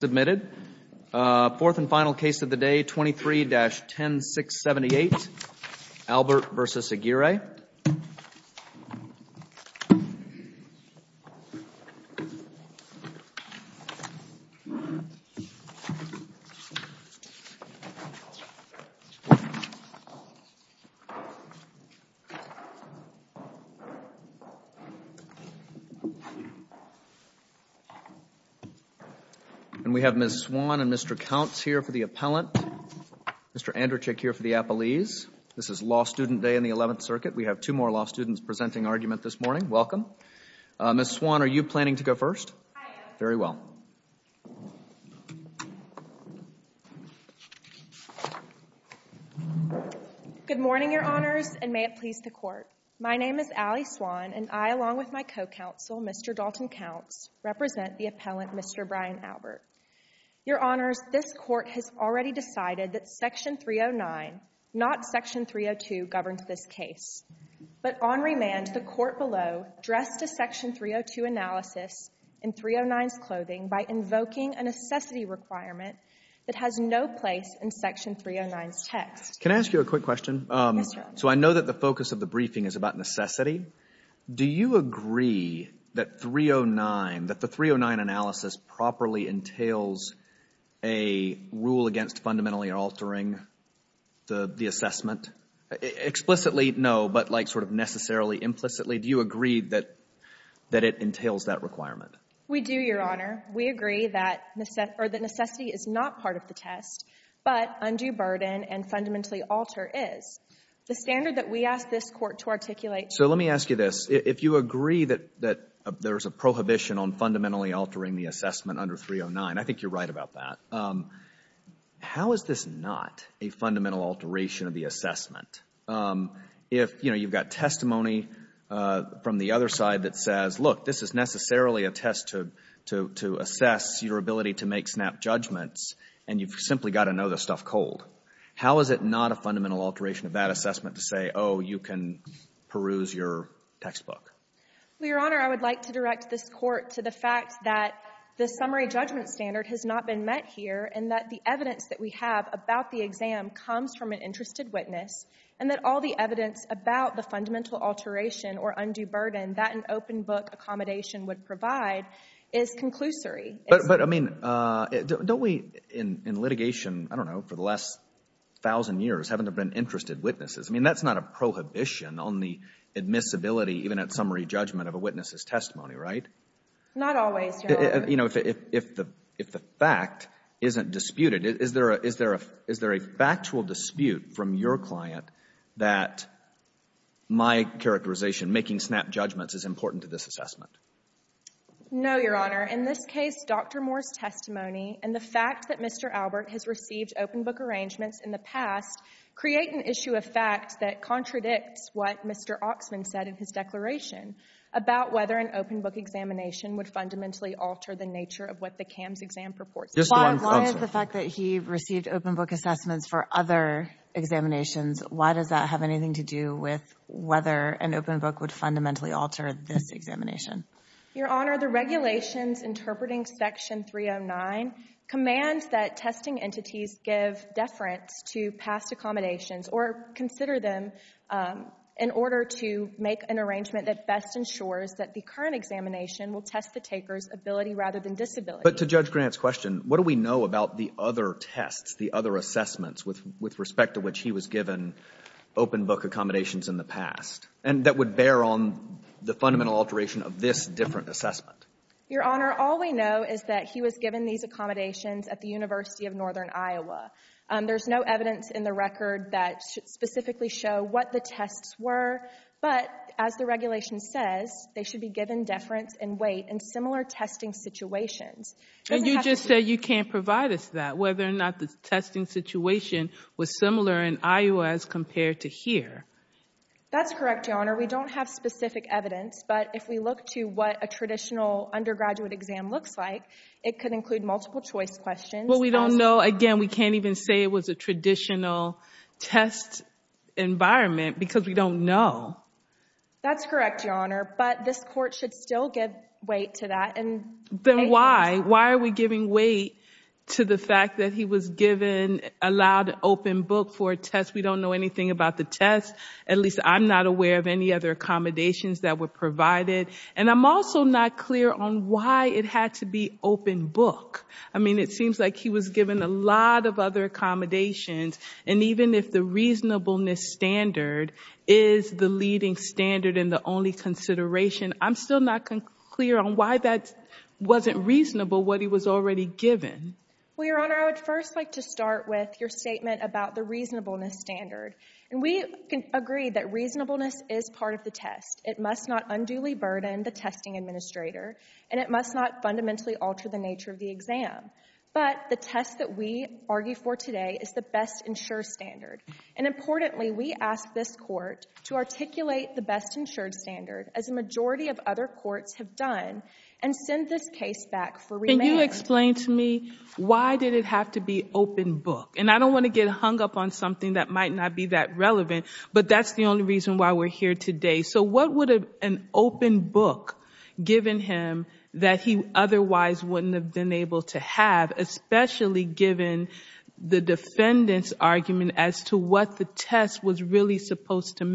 Fourth and final case of the day, 23-10678, Albert v. Aguirre. We have Ms. Swan and Mr. Counts here for the appellant, Mr. Anderchik here for the appellees. This is Law Student Day in the 11th Circuit. We have two more law students presenting argument this morning. Welcome. Ms. Swan, are you planning to go first? I am. Very well. Good morning, Your Honors, and may it please the Court. My name is Allie Swan, and I, along with my co-counsel, Mr. Dalton Counts, represent the appellant, Mr. Brian Albert. Your Honors, this Court has already decided that Section 309, not Section 302, governs this case. But on remand, the Court below addressed a Section 302 analysis in 309's clothing by invoking a necessity requirement that has no place in Section 309's text. Can I ask you a quick question? Yes, Your Honor. So I know that the focus of the briefing is about necessity. Do you agree that 309, that the 309 analysis properly entails a rule against fundamentally altering the assessment? Explicitly, no, but like sort of necessarily, implicitly, do you agree that it entails that requirement? We do, Your Honor. We agree that necessity is not part of the test, but undue burden and fundamentally alter is. The standard that we ask this Court to articulate— So let me ask you this. If you agree that there's a prohibition on fundamentally altering the assessment under 309, I think you're right about that. How is this not a fundamental alteration of the assessment? If, you know, you've got testimony from the other side that says, look, this is necessarily a test to assess your ability to make snap judgments, and you've simply got to know the stuff cold. How is it not a fundamental alteration of that assessment to say, oh, you can peruse your textbook? Well, Your Honor, I would like to direct this Court to the fact that the summary judgment standard has not been met here, and that the evidence that we have about the exam comes from an interested witness, and that all the evidence about the fundamental alteration or undue burden that an open book accommodation would provide is conclusory. But, I mean, don't we, in litigation, I don't know, for the last thousand years, haven't there been interested witnesses? I mean, that's not a prohibition on the admissibility, even at summary judgment, of a witness's testimony, right? Not always, Your Honor. You know, if the fact isn't disputed, is there a factual dispute from your client that my characterization, making snap judgments, is important to this assessment? No, Your Honor. In this case, Dr. Moore's testimony and the fact that Mr. Albert has received open book arrangements in the past create an issue of fact that contradicts what Mr. Oxman said in his declaration about whether an open book examination would fundamentally alter the nature of what the CAMS exam purports. Just one answer. Why is the fact that he received open book assessments for other examinations, why does that have anything to do with whether an open book would fundamentally alter this examination? Your Honor, the regulations interpreting section 309 commands that testing entities give deference to past accommodations or consider them in order to make an arrangement that best ensures that the current examination will test the taker's ability rather than disability. But to Judge Grant's question, what do we know about the other tests, the other assessments with respect to which he was given open book accommodations in the past, and that would bear on the fundamental alteration of this different assessment? Your Honor, all we know is that he was given these accommodations at the University of Northern Iowa. There is no evidence in the record that should specifically show what the tests were. But as the regulation says, they should be given deference and weight in similar testing situations. And you just said you can't provide us that, whether or not the testing situation was similar in Iowa as compared to here. That's correct, Your Honor. We don't have specific evidence. But if we look to what a traditional undergraduate exam looks like, it could include multiple choice questions. Well, we don't know. Again, we can't even say it was a traditional test environment because we don't know. That's correct, Your Honor. But this Court should still give weight to that. Then why? Why are we giving weight to the fact that he was given, allowed an open book for a test We don't know anything about the test. At least I'm not aware of any other accommodations that were provided. And I'm also not clear on why it had to be open book. I mean, it seems like he was given a lot of other accommodations. And even if the reasonableness standard is the leading standard and the only consideration, I'm still not clear on why that wasn't reasonable, what he was already given. Well, Your Honor, I would first like to start with your statement about the reasonableness standard. And we can agree that reasonableness is part of the test. It must not unduly burden the testing administrator. And it must not fundamentally alter the nature of the exam. But the test that we argue for today is the best insured standard. And importantly, we ask this Court to articulate the best insured standard, as a majority of other courts have done, and send this case back for remand. Could you explain to me why did it have to be open book? And I don't want to get hung up on something that might not be that relevant. But that's the only reason why we're here today. So what would an open book, given him, that he otherwise wouldn't have been able to have, especially given the defendant's argument as to what the test was really supposed to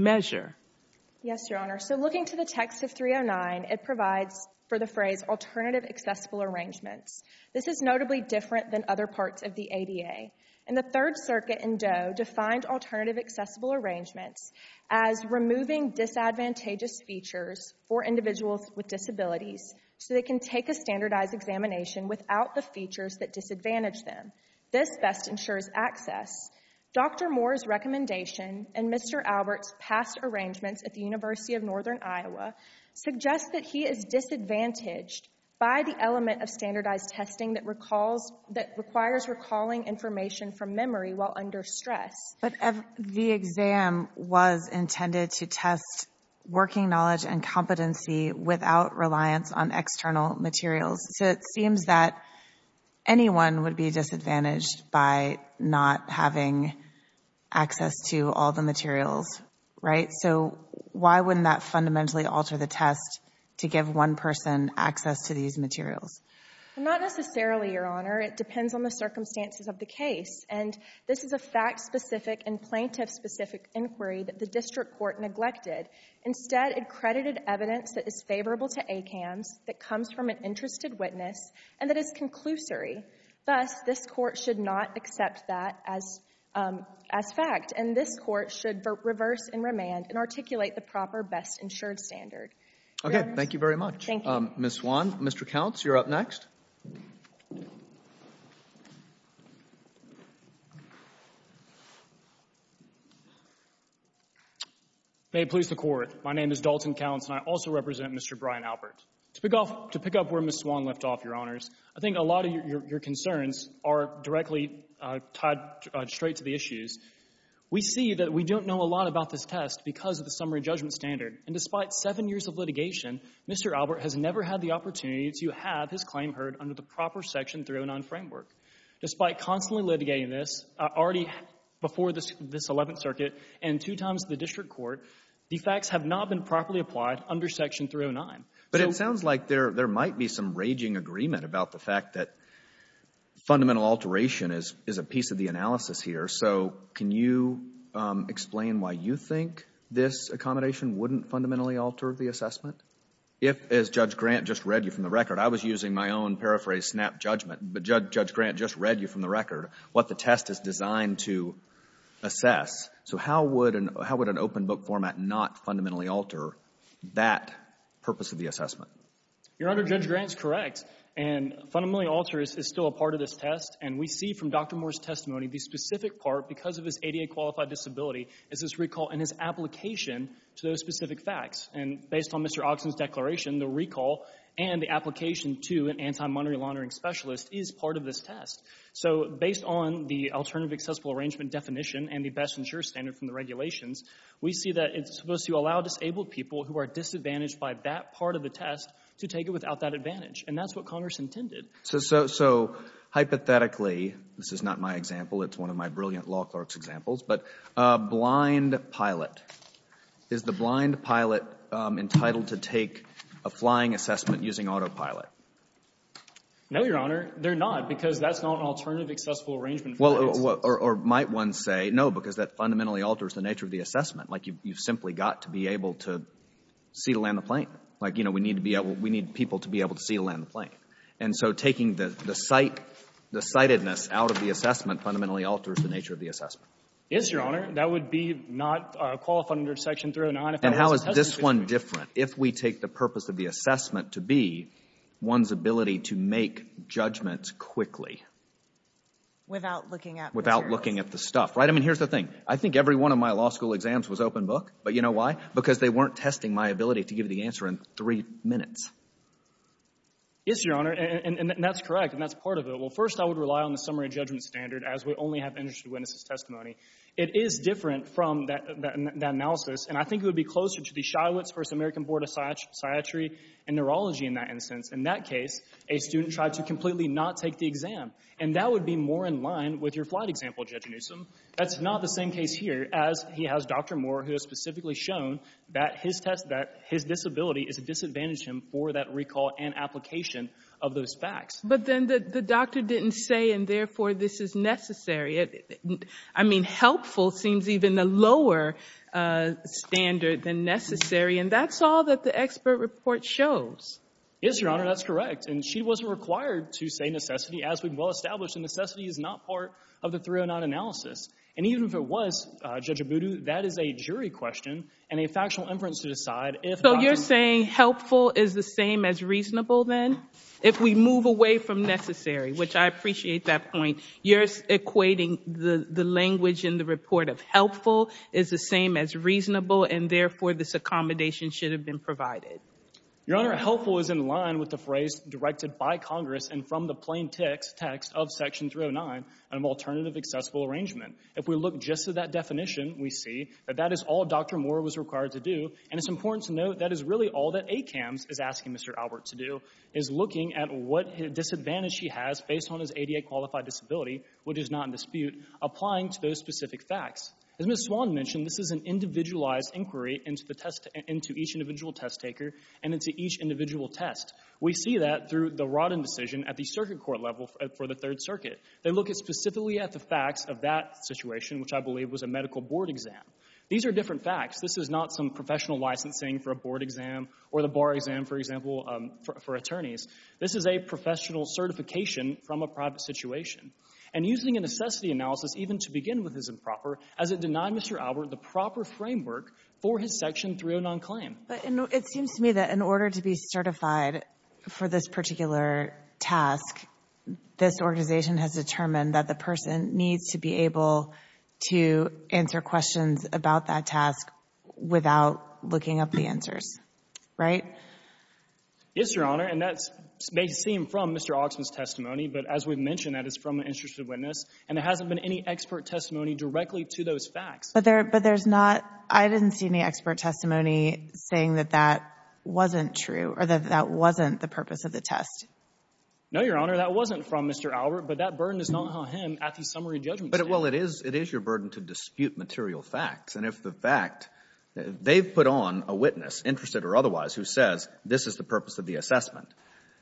Yes, Your Honor. So looking to the text of 309, it provides for the phrase alternative accessible arrangements. This is notably different than other parts of the ADA. And the Third Circuit in Doe defined alternative accessible arrangements as removing disadvantageous features for individuals with disabilities, so they can take a standardized examination without the features that disadvantage them. This best ensures access. Dr. Moore's recommendation and Mr. Albert's past arrangements at the University of Northern Iowa suggest that he is disadvantaged by the element of standardized testing that requires recalling information from memory while under stress. But the exam was intended to test working knowledge and competency without reliance on external materials. So it seems that anyone would be disadvantaged by not having access to all the materials, right? So why wouldn't that fundamentally alter the test to give one person access to these materials? Not necessarily, Your Honor. It depends on the circumstances of the case. And this is a fact-specific and plaintiff-specific inquiry that the district court neglected. Instead, it credited evidence that is favorable to ACAMS, that comes from an interested witness, and that is conclusory. Thus, this court should not accept that as fact. And this court should reverse and remand and articulate the proper best ensured standard. Okay. Thank you very much. Thank you. Ms. Swan, Mr. Counts, you're up next. May it please the Court. My name is Dalton Counts, and I also represent Mr. Brian Albert. To pick up where Ms. Swan left off, Your Honors, I think a lot of your concerns are directly tied straight to the issues. We see that we don't know a lot about this test because of the summary judgment standard. And despite seven years of litigation, Mr. Albert has never had the opportunity to have his claim heard under the proper Section 309 framework. Despite constantly litigating this, already before this Eleventh Circuit and two times the district court, the facts have not been properly applied under Section 309. But it sounds like there might be some raging agreement about the fact that fundamental alteration is a piece of the analysis here. So can you explain why you think this accommodation wouldn't fundamentally alter the assessment? If, as Judge Grant just read you from the record, I was using my own paraphrased snap judgment, but Judge Grant just read you from the record what the test is designed to assess, so how would an open book format not fundamentally alter that purpose of the assessment? Your Honor, Judge Grant is correct, and fundamentally alter is still a part of this test. And we see from Dr. Moore's testimony, the specific part, because of his ADA qualified disability, is his recall and his application to those specific facts. And based on Mr. Ogson's declaration, the recall and the application to an anti-monetary laundering specialist is part of this test. So based on the alternative accessible arrangement definition and the best insurer standard from the regulations, we see that it's supposed to allow disabled people who are disadvantaged by that part of the test to take it without that advantage, and that's what Congress intended. So hypothetically, this is not my example, it's one of my brilliant law clerk's examples, but a blind pilot. Is the blind pilot entitled to take a flying assessment using autopilot? No, Your Honor, they're not, because that's not an alternative accessible arrangement for the aids. Or might one say, no, because that fundamentally alters the nature of the assessment, like you've simply got to be able to see the land of the plane, like, you know, we need people to be able to see the land of the plane. And so taking the sightedness out of the assessment fundamentally alters the nature of the assessment. Yes, Your Honor. That would be not qualified under Section 309 if it wasn't tested. And how is this one different, if we take the purpose of the assessment to be one's ability to make judgments quickly? Without looking at materials. Without looking at the stuff. Right? I mean, here's the thing. I think every one of my law school exams was open book, but you know why? Because they weren't testing my ability to give the answer in three minutes. Yes, Your Honor, and that's correct, and that's part of it. Well, first, I would rely on the summary judgment standard, as we only have interested witnesses' testimony. It is different from that analysis, and I think it would be closer to the Shywitz v. American Board of Psychiatry and Neurology in that instance. In that case, a student tried to completely not take the exam, and that would be more in line with your flight example, Judge Newsom. That's not the same case here, as he has Dr. Moore, who has specifically shown that his test that his disability is a disadvantage to him for that recall and application of those facts. But then the doctor didn't say, and therefore this is necessary. I mean, helpful seems even the lower standard than necessary, and that's all that the expert report shows. Yes, Your Honor, that's correct, and she wasn't required to say necessity. As we've well established, necessity is not part of the 309 analysis, and even if it was, Judge Abudu, that is a jury question and a factual inference to decide if Dr. Moore So you're saying helpful is the same as reasonable, then, if we move away from necessary, which I appreciate that point. You're equating the language in the report of helpful is the same as reasonable, and therefore this accommodation should have been provided. Your Honor, helpful is in line with the phrase directed by Congress and from the plain text of Section 309 on an alternative accessible arrangement. If we look just at that definition, we see that that is all Dr. Moore was required to do, and it's important to note that is really all that ACAMS is asking Mr. Albert to do is looking at what disadvantage he has based on his ADA qualified disability, which is not in dispute, applying to those specific facts. As Ms. Swan mentioned, this is an individualized inquiry into each individual test taker and into each individual test. We see that through the Rodden decision at the circuit court level for the Third Circuit. They look specifically at the facts of that situation, which I believe was a medical board exam. These are different facts. This is not some professional licensing for a board exam or the bar exam, for example, for attorneys. This is a professional certification from a private situation, and using a necessity analysis even to begin with is improper as it denied Mr. Albert the proper framework for his Section 309 claim. It seems to me that in order to be certified for this particular task, this organization has determined that the person needs to be able to answer questions about that task without looking up the answers, right? Yes, Your Honor, and that may seem from Mr. Oxman's testimony, but as we've mentioned, that is from an interested witness, and there hasn't been any expert testimony directly to those facts. But there's not... I didn't see any expert testimony saying that that wasn't true or that that wasn't the purpose of the test. No, Your Honor, that wasn't from Mr. Albert, but that burden is not on him at the summary judgment stage. Well, it is your burden to dispute material facts, and if the fact... they've put on a witness, interested or otherwise, who says this is the purpose of the assessment.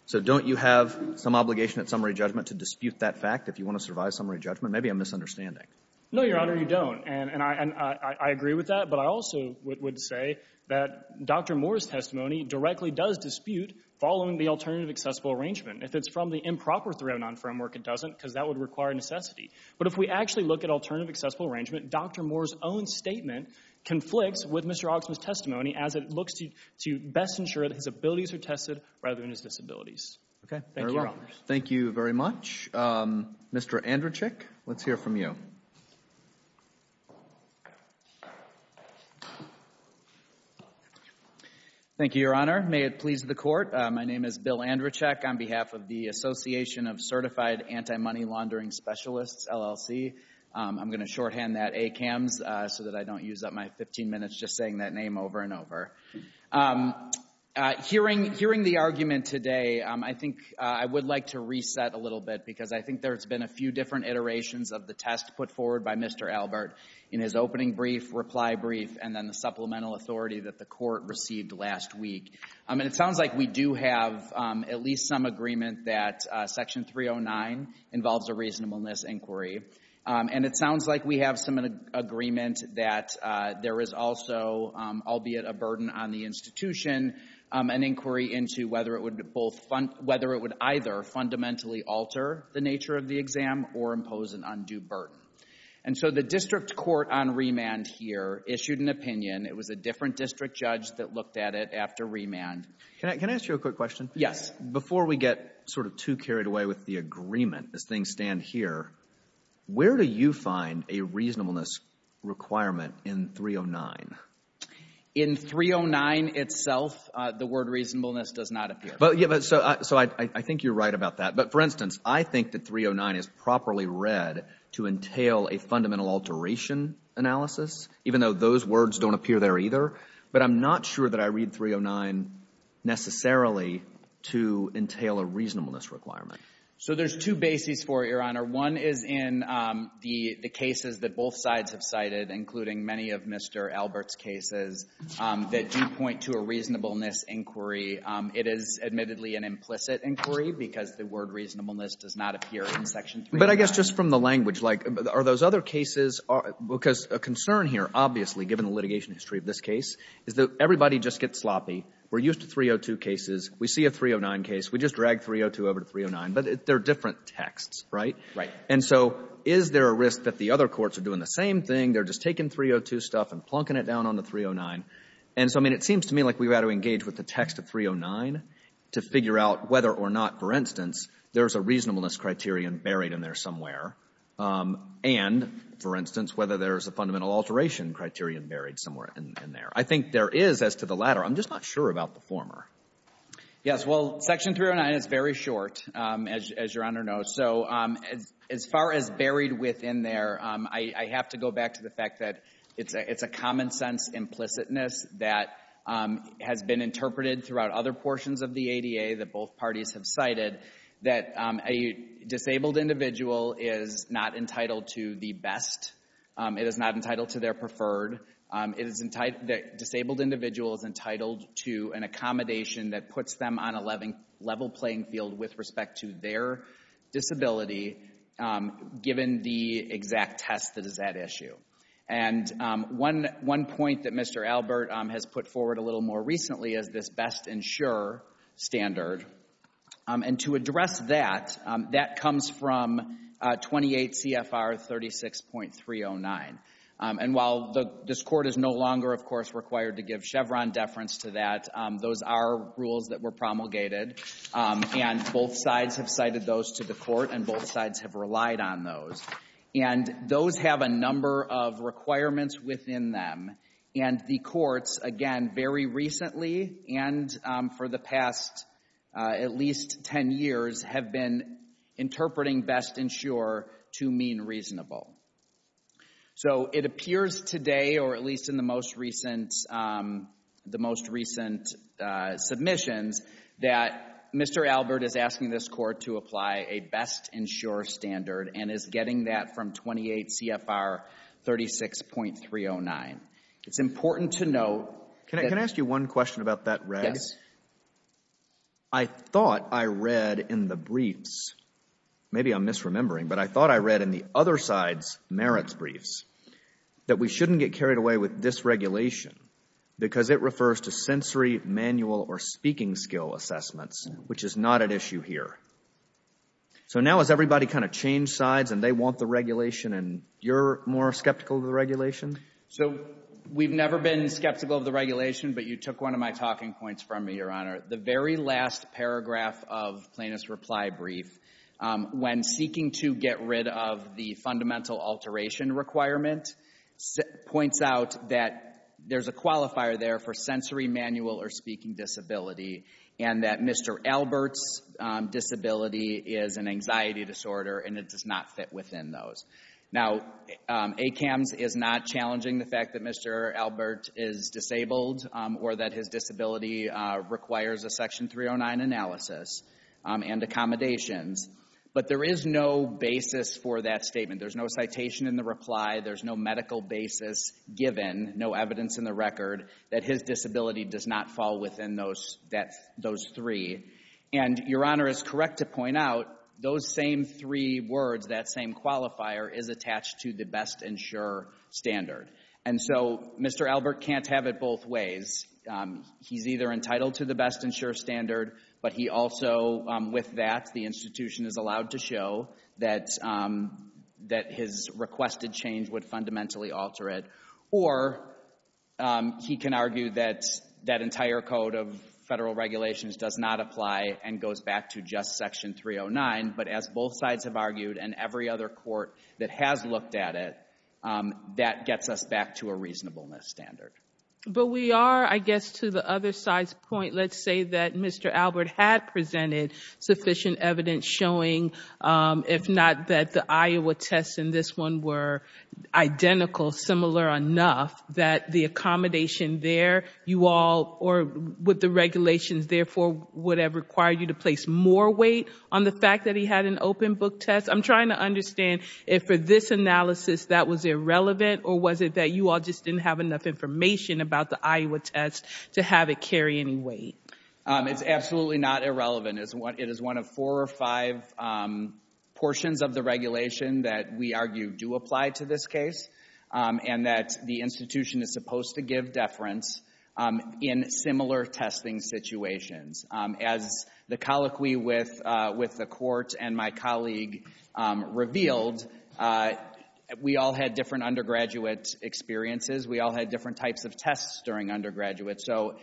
So don't you have some obligation at summary judgment to dispute that fact if you want to survive summary judgment? Maybe I'm misunderstanding. No, Your Honor, you don't, and I agree with that. But I also would say that Dr. Moore's testimony directly does dispute following the alternative accessible arrangement. If it's from the improper 309 framework, it doesn't, because that would require necessity. But if we actually look at alternative accessible arrangement, Dr. Moore's own statement conflicts with Mr. Oxman's testimony as it looks to best ensure that his abilities are tested rather than his disabilities. Okay. Thank you, Your Honor. Thank you very much. Mr. Andrzejczyk, let's hear from you. Thank you, Your Honor. May it please the Court. My name is Bill Andrzejczyk on behalf of the Association of Certified Anti-Money Laundering Specialists, LLC. I'm going to shorthand that ACAMS so that I don't use up my 15 minutes just saying that name over and over. Hearing the argument today, I think I would like to reset a little bit because I think there's been a few different iterations of the test put forward by Mr. Albert in his opening brief, reply brief, and then the supplemental authority that the Court received last week. And it sounds like we do have at least some agreement that Section 309 involves a reasonableness inquiry and it sounds like we have some agreement that there is also, albeit a burden on the institution, an inquiry into whether it would either fundamentally alter the nature of the exam or impose an undue burden. And so the district court on remand here issued an opinion. It was a different district judge that looked at it after remand. Can I ask you a quick question? Yes. Before we get sort of too carried away with the agreement as things stand here, where do you find a reasonableness requirement in 309? In 309 itself, the word reasonableness does not appear. So I think you're right about that. But for instance, I think that 309 is properly read to entail a fundamental alteration analysis even though those words don't appear there either. But I'm not sure that I read 309 necessarily to entail a reasonableness requirement. So there's two bases for it, Your Honor. One is in the cases that both sides have cited, including many of Mr. Albert's cases, that do point to a reasonableness inquiry. It is admittedly an implicit inquiry because the word reasonableness does not appear in Section 309. But I guess just from the language, like, are those other cases, because a concern here obviously, given the litigation history of this case, is that everybody just gets sloppy. We're used to 302 cases. We see a 309 case. We just drag 302 over to 309. But they're different texts, right? Right. And so is there a risk that the other courts are doing the same thing? They're just taking 302 stuff and plunking it down on the 309. And so, I mean, it seems to me like we've got to engage with the text of 309 to figure out whether or not, for instance, there's a reasonableness criterion buried in there somewhere and, for instance, whether there's a fundamental alteration criterion buried somewhere in there. I think there is as to the latter. I'm just not sure about the former. Yes. Well, Section 309 is very short, as Your Honor knows. So as far as buried within there, I have to go back to the fact that it's a common sense implicitness that has been interpreted throughout other portions of the ADA that both parties have cited, that a disabled individual is not entitled to the best, it is not entitled to their preferred, that a disabled individual is entitled to an accommodation that puts them on a level playing field with respect to their disability, given the exact test that is at issue. And one point that Mr. Albert has put forward a little more recently is this best-ensure standard. And to address that, that comes from 28 CFR 36.309. And while this Court is no longer, of course, required to give Chevron deference to that, those are rules that were promulgated, and both sides have cited those to the Court, and both sides have relied on those. And those have a number of requirements within them, and the Courts, again, very recently and for the past at least 10 years, have been interpreting best-ensure to mean reasonable. So it appears today, or at least in the most recent submissions, that Mr. Albert is asking this Court to apply a best-ensure standard and is getting that from 28 CFR 36.309. It's important to note that... Can I ask you one question about that, Reg? Yes. I thought I read in the briefs, maybe I'm misremembering, but I thought I read in the other side's merits briefs that we shouldn't get carried away with dysregulation because it refers to sensory, manual, or speaking skill assessments, which is not at issue here. So now has everybody kind of changed sides and they want the regulation and you're more skeptical of the regulation? So we've never been skeptical of the regulation, but you took one of my talking points from me, Your Honor. The very last paragraph of Plaintiff's reply brief, when seeking to get rid of the fundamental alteration requirement, points out that there's a qualifier there for sensory, manual, or speaking disability and that Mr. Albert's disability is an anxiety disorder and it does not fit within those. Now ACAMS is not challenging the fact that Mr. Albert is disabled or that his disability requires a Section 309 analysis and accommodations, but there is no basis for that statement. There's no citation in the reply. There's no medical basis given, no evidence in the record that his disability does not fall within those three. And Your Honor is correct to point out those same three words, that same qualifier is attached to the best and sure standard. And so Mr. Albert can't have it both ways. He's either entitled to the best and sure standard, but he also, with that, the institution is allowed to show that his requested change would fundamentally alter it. Or he can argue that that entire code of federal regulations does not apply and goes back to just Section 309, but as both sides have argued and every other court that has looked at it, that gets us back to a reasonableness standard. But we are, I guess, to the other side's point, let's say that Mr. Albert had presented sufficient evidence showing, if not, that the Iowa tests in this one were identical, similar enough that the accommodation there, you all, or with the regulations, therefore, would have required you to place more weight on the fact that he had an open book test. I'm trying to understand if for this analysis that was irrelevant or was it that you all just didn't have enough information about the Iowa test to have it carry any weight? It's absolutely not irrelevant. It is one of four or five portions of the regulation that we argue do apply to this case and that the institution is supposed to give deference in similar testing situations. As the colloquy with the court and my colleague revealed, we all had different undergraduate experiences. We all had different types of tests during undergraduate. So,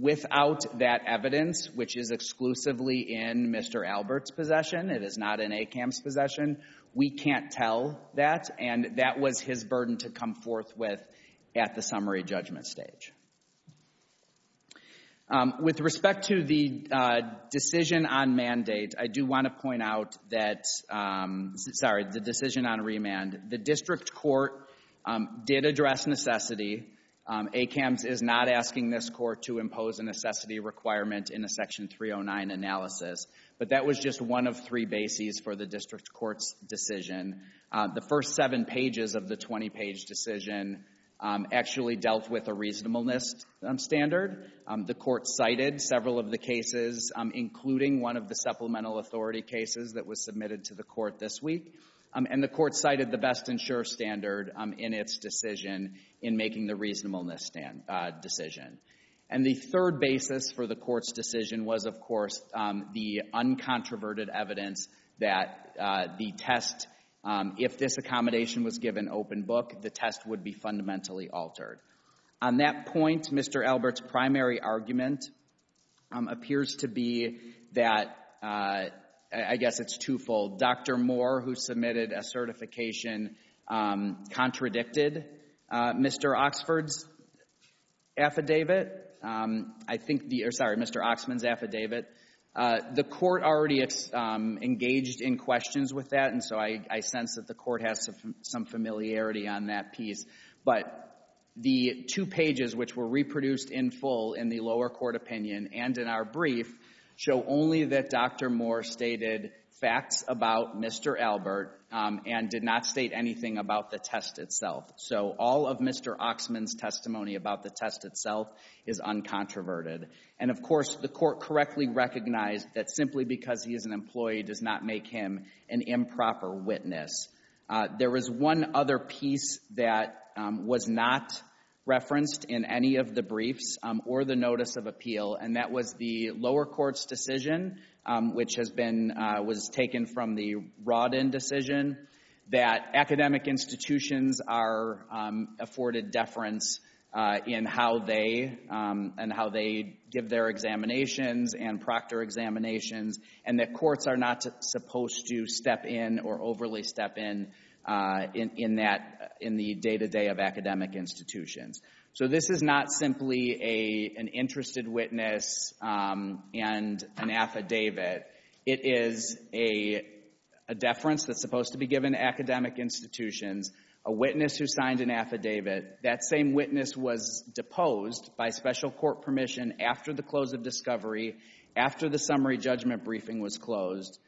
without that evidence, which is exclusively in Mr. Albert's possession, it is not in ACAM's possession, we can't tell that. And that was his burden to come forth with at the summary judgment stage. With respect to the decision on mandate, I do want to point out that, sorry, the decision on remand. The district court did address necessity. ACAM's is not asking this court to impose a necessity requirement in a section 309 analysis. But that was just one of three bases for the district court's decision. The first seven pages of the 20-page decision actually dealt with a reasonableness standard. The court cited several of the cases, including one of the supplemental authority cases that was submitted to the court this week. And the court cited the best and sure standard in its decision in making the reasonableness decision. And the third basis for the court's decision was, of course, the uncontroverted evidence that the test, if this accommodation was given open book, the test would be fundamentally altered. On that point, Mr. Albert's primary argument appears to be that, I guess it's twofold. Dr. Moore, who submitted a certification, contradicted Mr. Oxford's affidavit. I think the, sorry, Mr. Oxman's affidavit. The court already engaged in questions with that, and so I sense that the court has some familiarity on that piece. But the two pages which were reproduced in full in the lower court opinion and in our about Mr. Albert and did not state anything about the test itself. So all of Mr. Oxman's testimony about the test itself is uncontroverted. And of course, the court correctly recognized that simply because he is an employee does not make him an improper witness. There was one other piece that was not referenced in any of the briefs or the notice of appeal, and that was the lower court's decision, which has been, was taken from the Rodin decision, that academic institutions are afforded deference in how they, and how they give their examinations and proctor examinations, and that courts are not supposed to step in or overly step in in that, in the day-to-day of academic institutions. So this is not simply an interested witness and an affidavit. It is a deference that's supposed to be given to academic institutions, a witness who signed an affidavit. That same witness was deposed by special court permission after the close of discovery, after the summary judgment briefing was closed.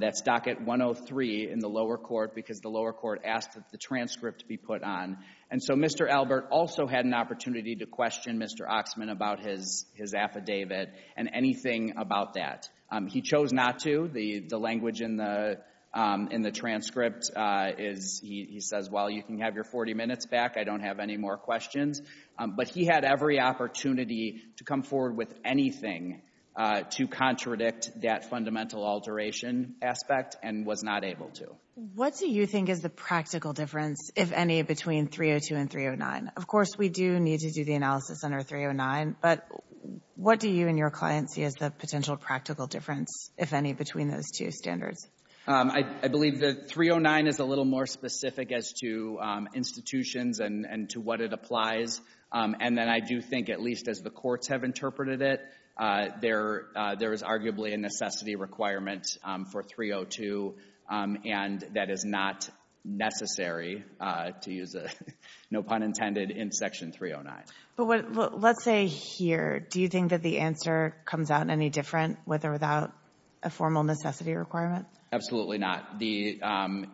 That's docket 103 in the lower court because the lower court asked that the transcript be put on. And so Mr. Albert also had an opportunity to question Mr. Oxman about his affidavit and anything about that. He chose not to. The language in the transcript is, he says, well, you can have your 40 minutes back. I don't have any more questions. But he had every opportunity to come forward with anything to contradict that fundamental alteration aspect and was not able to. What do you think is the practical difference, if any, between 302 and 309? Of course, we do need to do the analysis under 309, but what do you and your clients see as the potential practical difference, if any, between those two standards? I believe that 309 is a little more specific as to institutions and to what it applies. And then I do think, at least as the courts have interpreted it, there is arguably a necessity requirement for 302. And that is not necessary, to use no pun intended, in Section 309. Let's say here, do you think that the answer comes out any different with or without a formal necessity requirement? Absolutely not. The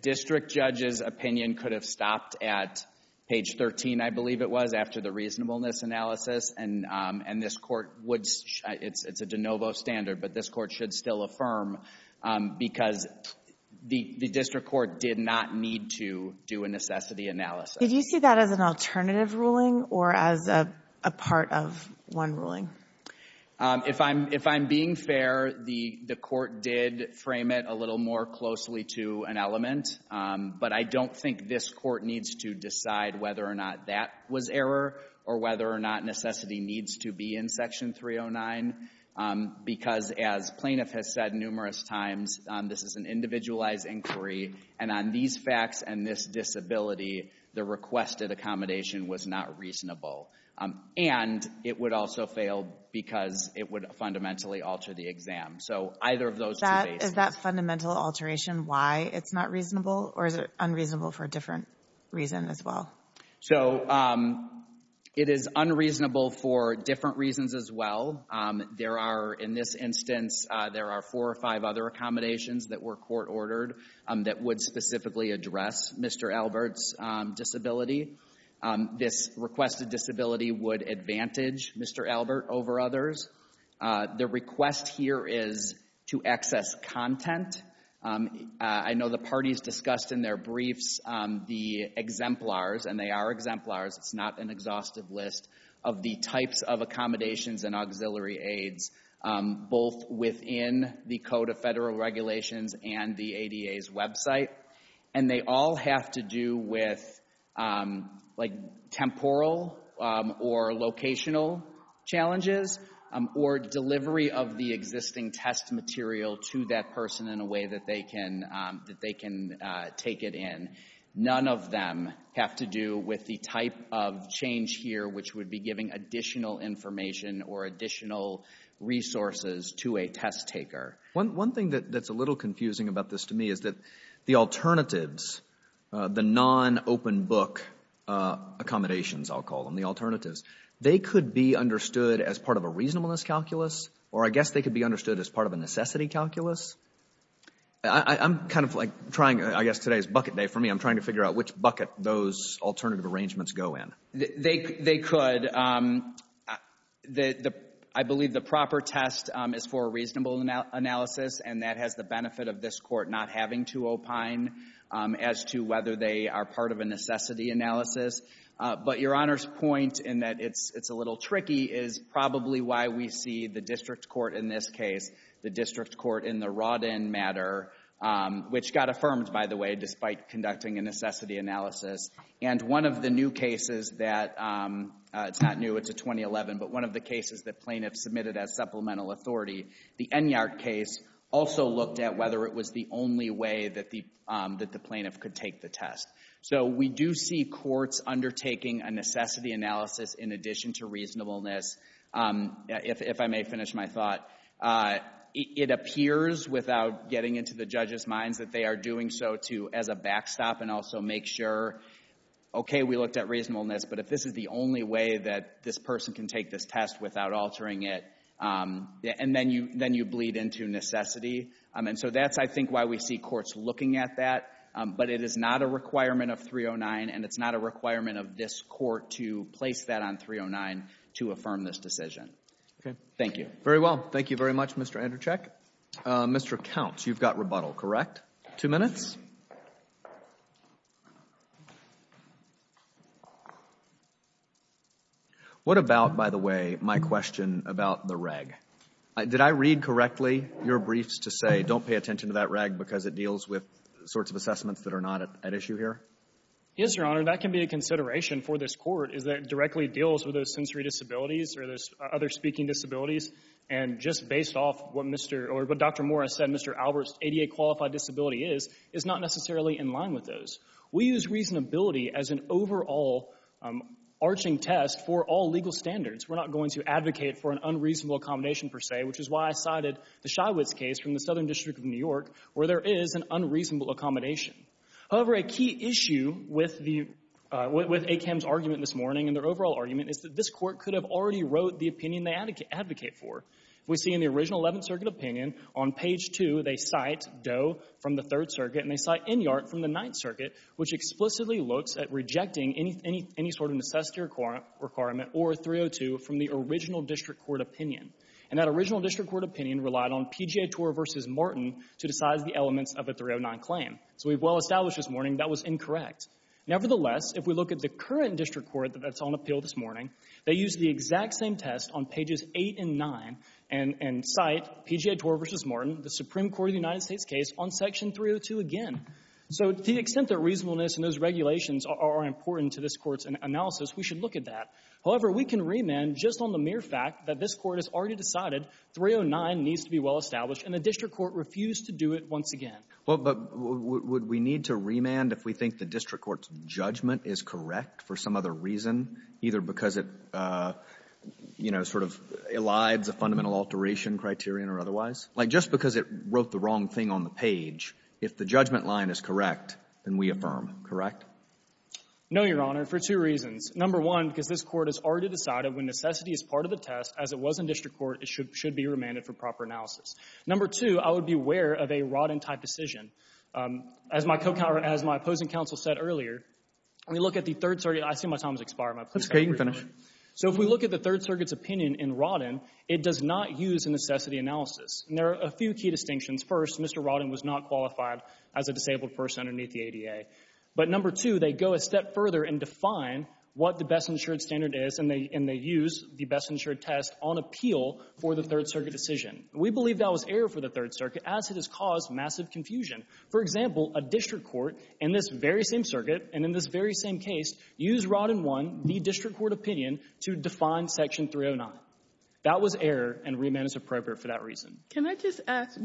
district judge's opinion could have stopped at page 13, I believe it was, after the reasonableness analysis and this court would, it's a de novo standard, but this court should still affirm because the district court did not need to do a necessity analysis. Did you see that as an alternative ruling or as a part of one ruling? If I'm being fair, the court did frame it a little more closely to an element. But I don't think this court needs to decide whether or not that was error, or whether or not necessity needs to be in Section 309. Because as plaintiff has said numerous times, this is an individualized inquiry. And on these facts and this disability, the requested accommodation was not reasonable. And it would also fail because it would fundamentally alter the exam. So either of those two bases. Is that fundamental alteration why it's not reasonable? Or is it unreasonable for a different reason as well? So it is unreasonable for different reasons as well. There are, in this instance, there are four or five other accommodations that were court ordered that would specifically address Mr. Albert's disability. This requested disability would advantage Mr. Albert over others. The request here is to access content. I know the parties discussed in their briefs the exemplars, and they are exemplars. It's not an exhaustive list of the types of accommodations and auxiliary aids, both within the Code of Federal Regulations and the ADA's website. And they all have to do with temporal or locational challenges or delivery of the existing test material to that person in a way that they can take it in. None of them have to do with the type of change here, which would be giving additional information or additional resources to a test taker. One thing that's a little confusing about this to me is that the alternatives, the non-open book accommodations, I'll call them, the alternatives, they could be understood as part of a reasonableness calculus, or I guess they could be understood as part of a necessity calculus. I'm kind of like trying, I guess today is bucket day for me. I'm trying to figure out which bucket those alternative arrangements go in. They could. I believe the proper test is for a reasonable analysis, and that has the benefit of this court not having to opine as to whether they are part of a necessity analysis. But Your Honor's point in that it's a little tricky is probably why we see the district court in this case, the district court in the Rodin matter, which got affirmed, by the way, despite conducting a necessity analysis. And one of the new cases that, it's not new, it's a 2011, but one of the cases that plaintiffs submitted as supplemental authority, the Enyart case also looked at whether it was the only way that the plaintiff could take the test. So we do see courts undertaking a necessity analysis in addition to reasonableness, if I may finish my thought. It appears, without getting into the judge's minds, that they are doing so as a backstop and also make sure, okay, we looked at reasonableness, but if this is the only way that this person can take this test without altering it, then you bleed into necessity. And so that's, I think, why we see courts looking at that. But it is not a requirement of 309, and it's not a requirement of this court to place that on 309 to affirm this decision. Thank you. Very well. Thank you very much, Mr. Andrzejczyk. Mr. Count, you've got rebuttal, correct? Two minutes. What about, by the way, my question about the reg? Did I read correctly your briefs to say don't pay attention to that reg because it deals with sorts of assessments that are not at issue here? Yes, Your Honor. That can be a consideration for this court, is that it directly deals with those sensory disabilities or those other speaking disabilities. And just based off what Dr. Morris said, Mr. Albert's ADA-qualified disability is not necessarily in line with those. We use reasonability as an overall arching test for all legal standards. We're not going to advocate for an unreasonable accommodation, per se, which is why I cited the Shywitz case from the Southern District of New York, where there is an unreasonable accommodation. However, a key issue with ACAM's argument this morning and their overall argument is that this court could have already wrote the opinion they advocate for. We see in the original 11th Circuit opinion, on page 2, they cite Doe from the 3rd Circuit and they cite Inyart from the 9th Circuit, which explicitly looks at rejecting any sort of necessity requirement or 302 from the original District Court opinion. And that original District Court opinion relied on PGA TOR v. Martin to decide the elements of a 309 claim. So we've well established this morning that was incorrect. Nevertheless, if we look at the current District Court that's on appeal this morning, they exact same test on pages 8 and 9 and cite PGA TOR v. Martin, the Supreme Court of the United States case, on section 302 again. So to the extent that reasonableness and those regulations are important to this court's analysis, we should look at that. However, we can remand just on the mere fact that this court has already decided 309 needs to be well established and the District Court refused to do it once again. Well, but would we need to remand if we think the District Court's judgment is correct for some other reason, either because it, you know, sort of elides a fundamental alteration criterion or otherwise? Like, just because it wrote the wrong thing on the page, if the judgment line is correct, then we affirm, correct? No, Your Honor, for two reasons. Number one, because this court has already decided when necessity is part of the test, as it was in District Court, it should be remanded for proper analysis. Number two, I would be aware of a wrought-in type decision. As my opposing counsel said earlier, when we look at the Third Circuit, I see my time has expired. That's okay. You can finish. So if we look at the Third Circuit's opinion in wrought-in, it does not use a necessity analysis. There are a few key distinctions. First, Mr. Wrought-in was not qualified as a disabled person underneath the ADA. But number two, they go a step further and define what the best-insured standard is, and they use the best-insured test on appeal for the Third Circuit decision. We believe that was error for the Third Circuit, as it has caused massive confusion. For example, a District Court in this very same circuit, and in this very same case, used wrought-in one, the District Court opinion, to define Section 309. That was error, and remand is appropriate for that reason. Can I just ask,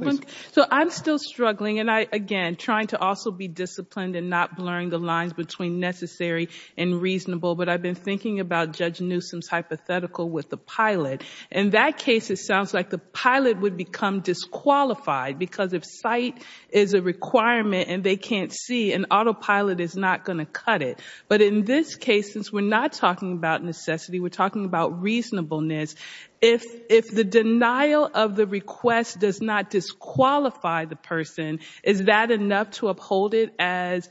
so I'm still struggling, and I, again, trying to also be disciplined and not blurring the lines between necessary and reasonable, but I've been thinking about Judge Newsom's hypothetical with the pilot. In that case, it sounds like the pilot would become disqualified, because if sight is a requirement and they can't see, an autopilot is not going to cut it. But in this case, since we're not talking about necessity, we're talking about reasonableness, if the denial of the request does not disqualify the person, is that enough to uphold it as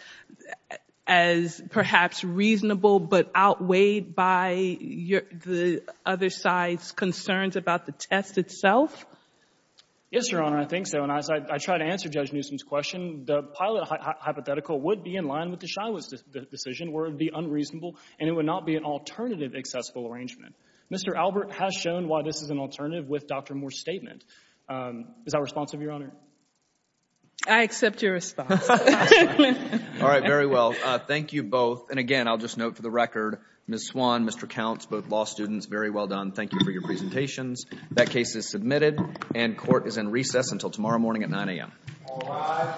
perhaps reasonable, but outweighed by the other side's concerns about the test itself? Yes, Your Honor, I think so. And as I try to answer Judge Newsom's question, the pilot hypothetical would be in line with the Shiloh's decision, where it would be unreasonable, and it would not be an alternative accessible arrangement. Mr. Albert has shown why this is an alternative with Dr. Moore's statement. Is that responsive, Your Honor? I accept your response. All right, very well. Thank you both. And again, I'll just note for the record, Ms. Swan, Mr. Counts, both law students, very well done. Thank you for your presentations. That case is submitted, and court is in recess until tomorrow morning at 9 a.m. All rise.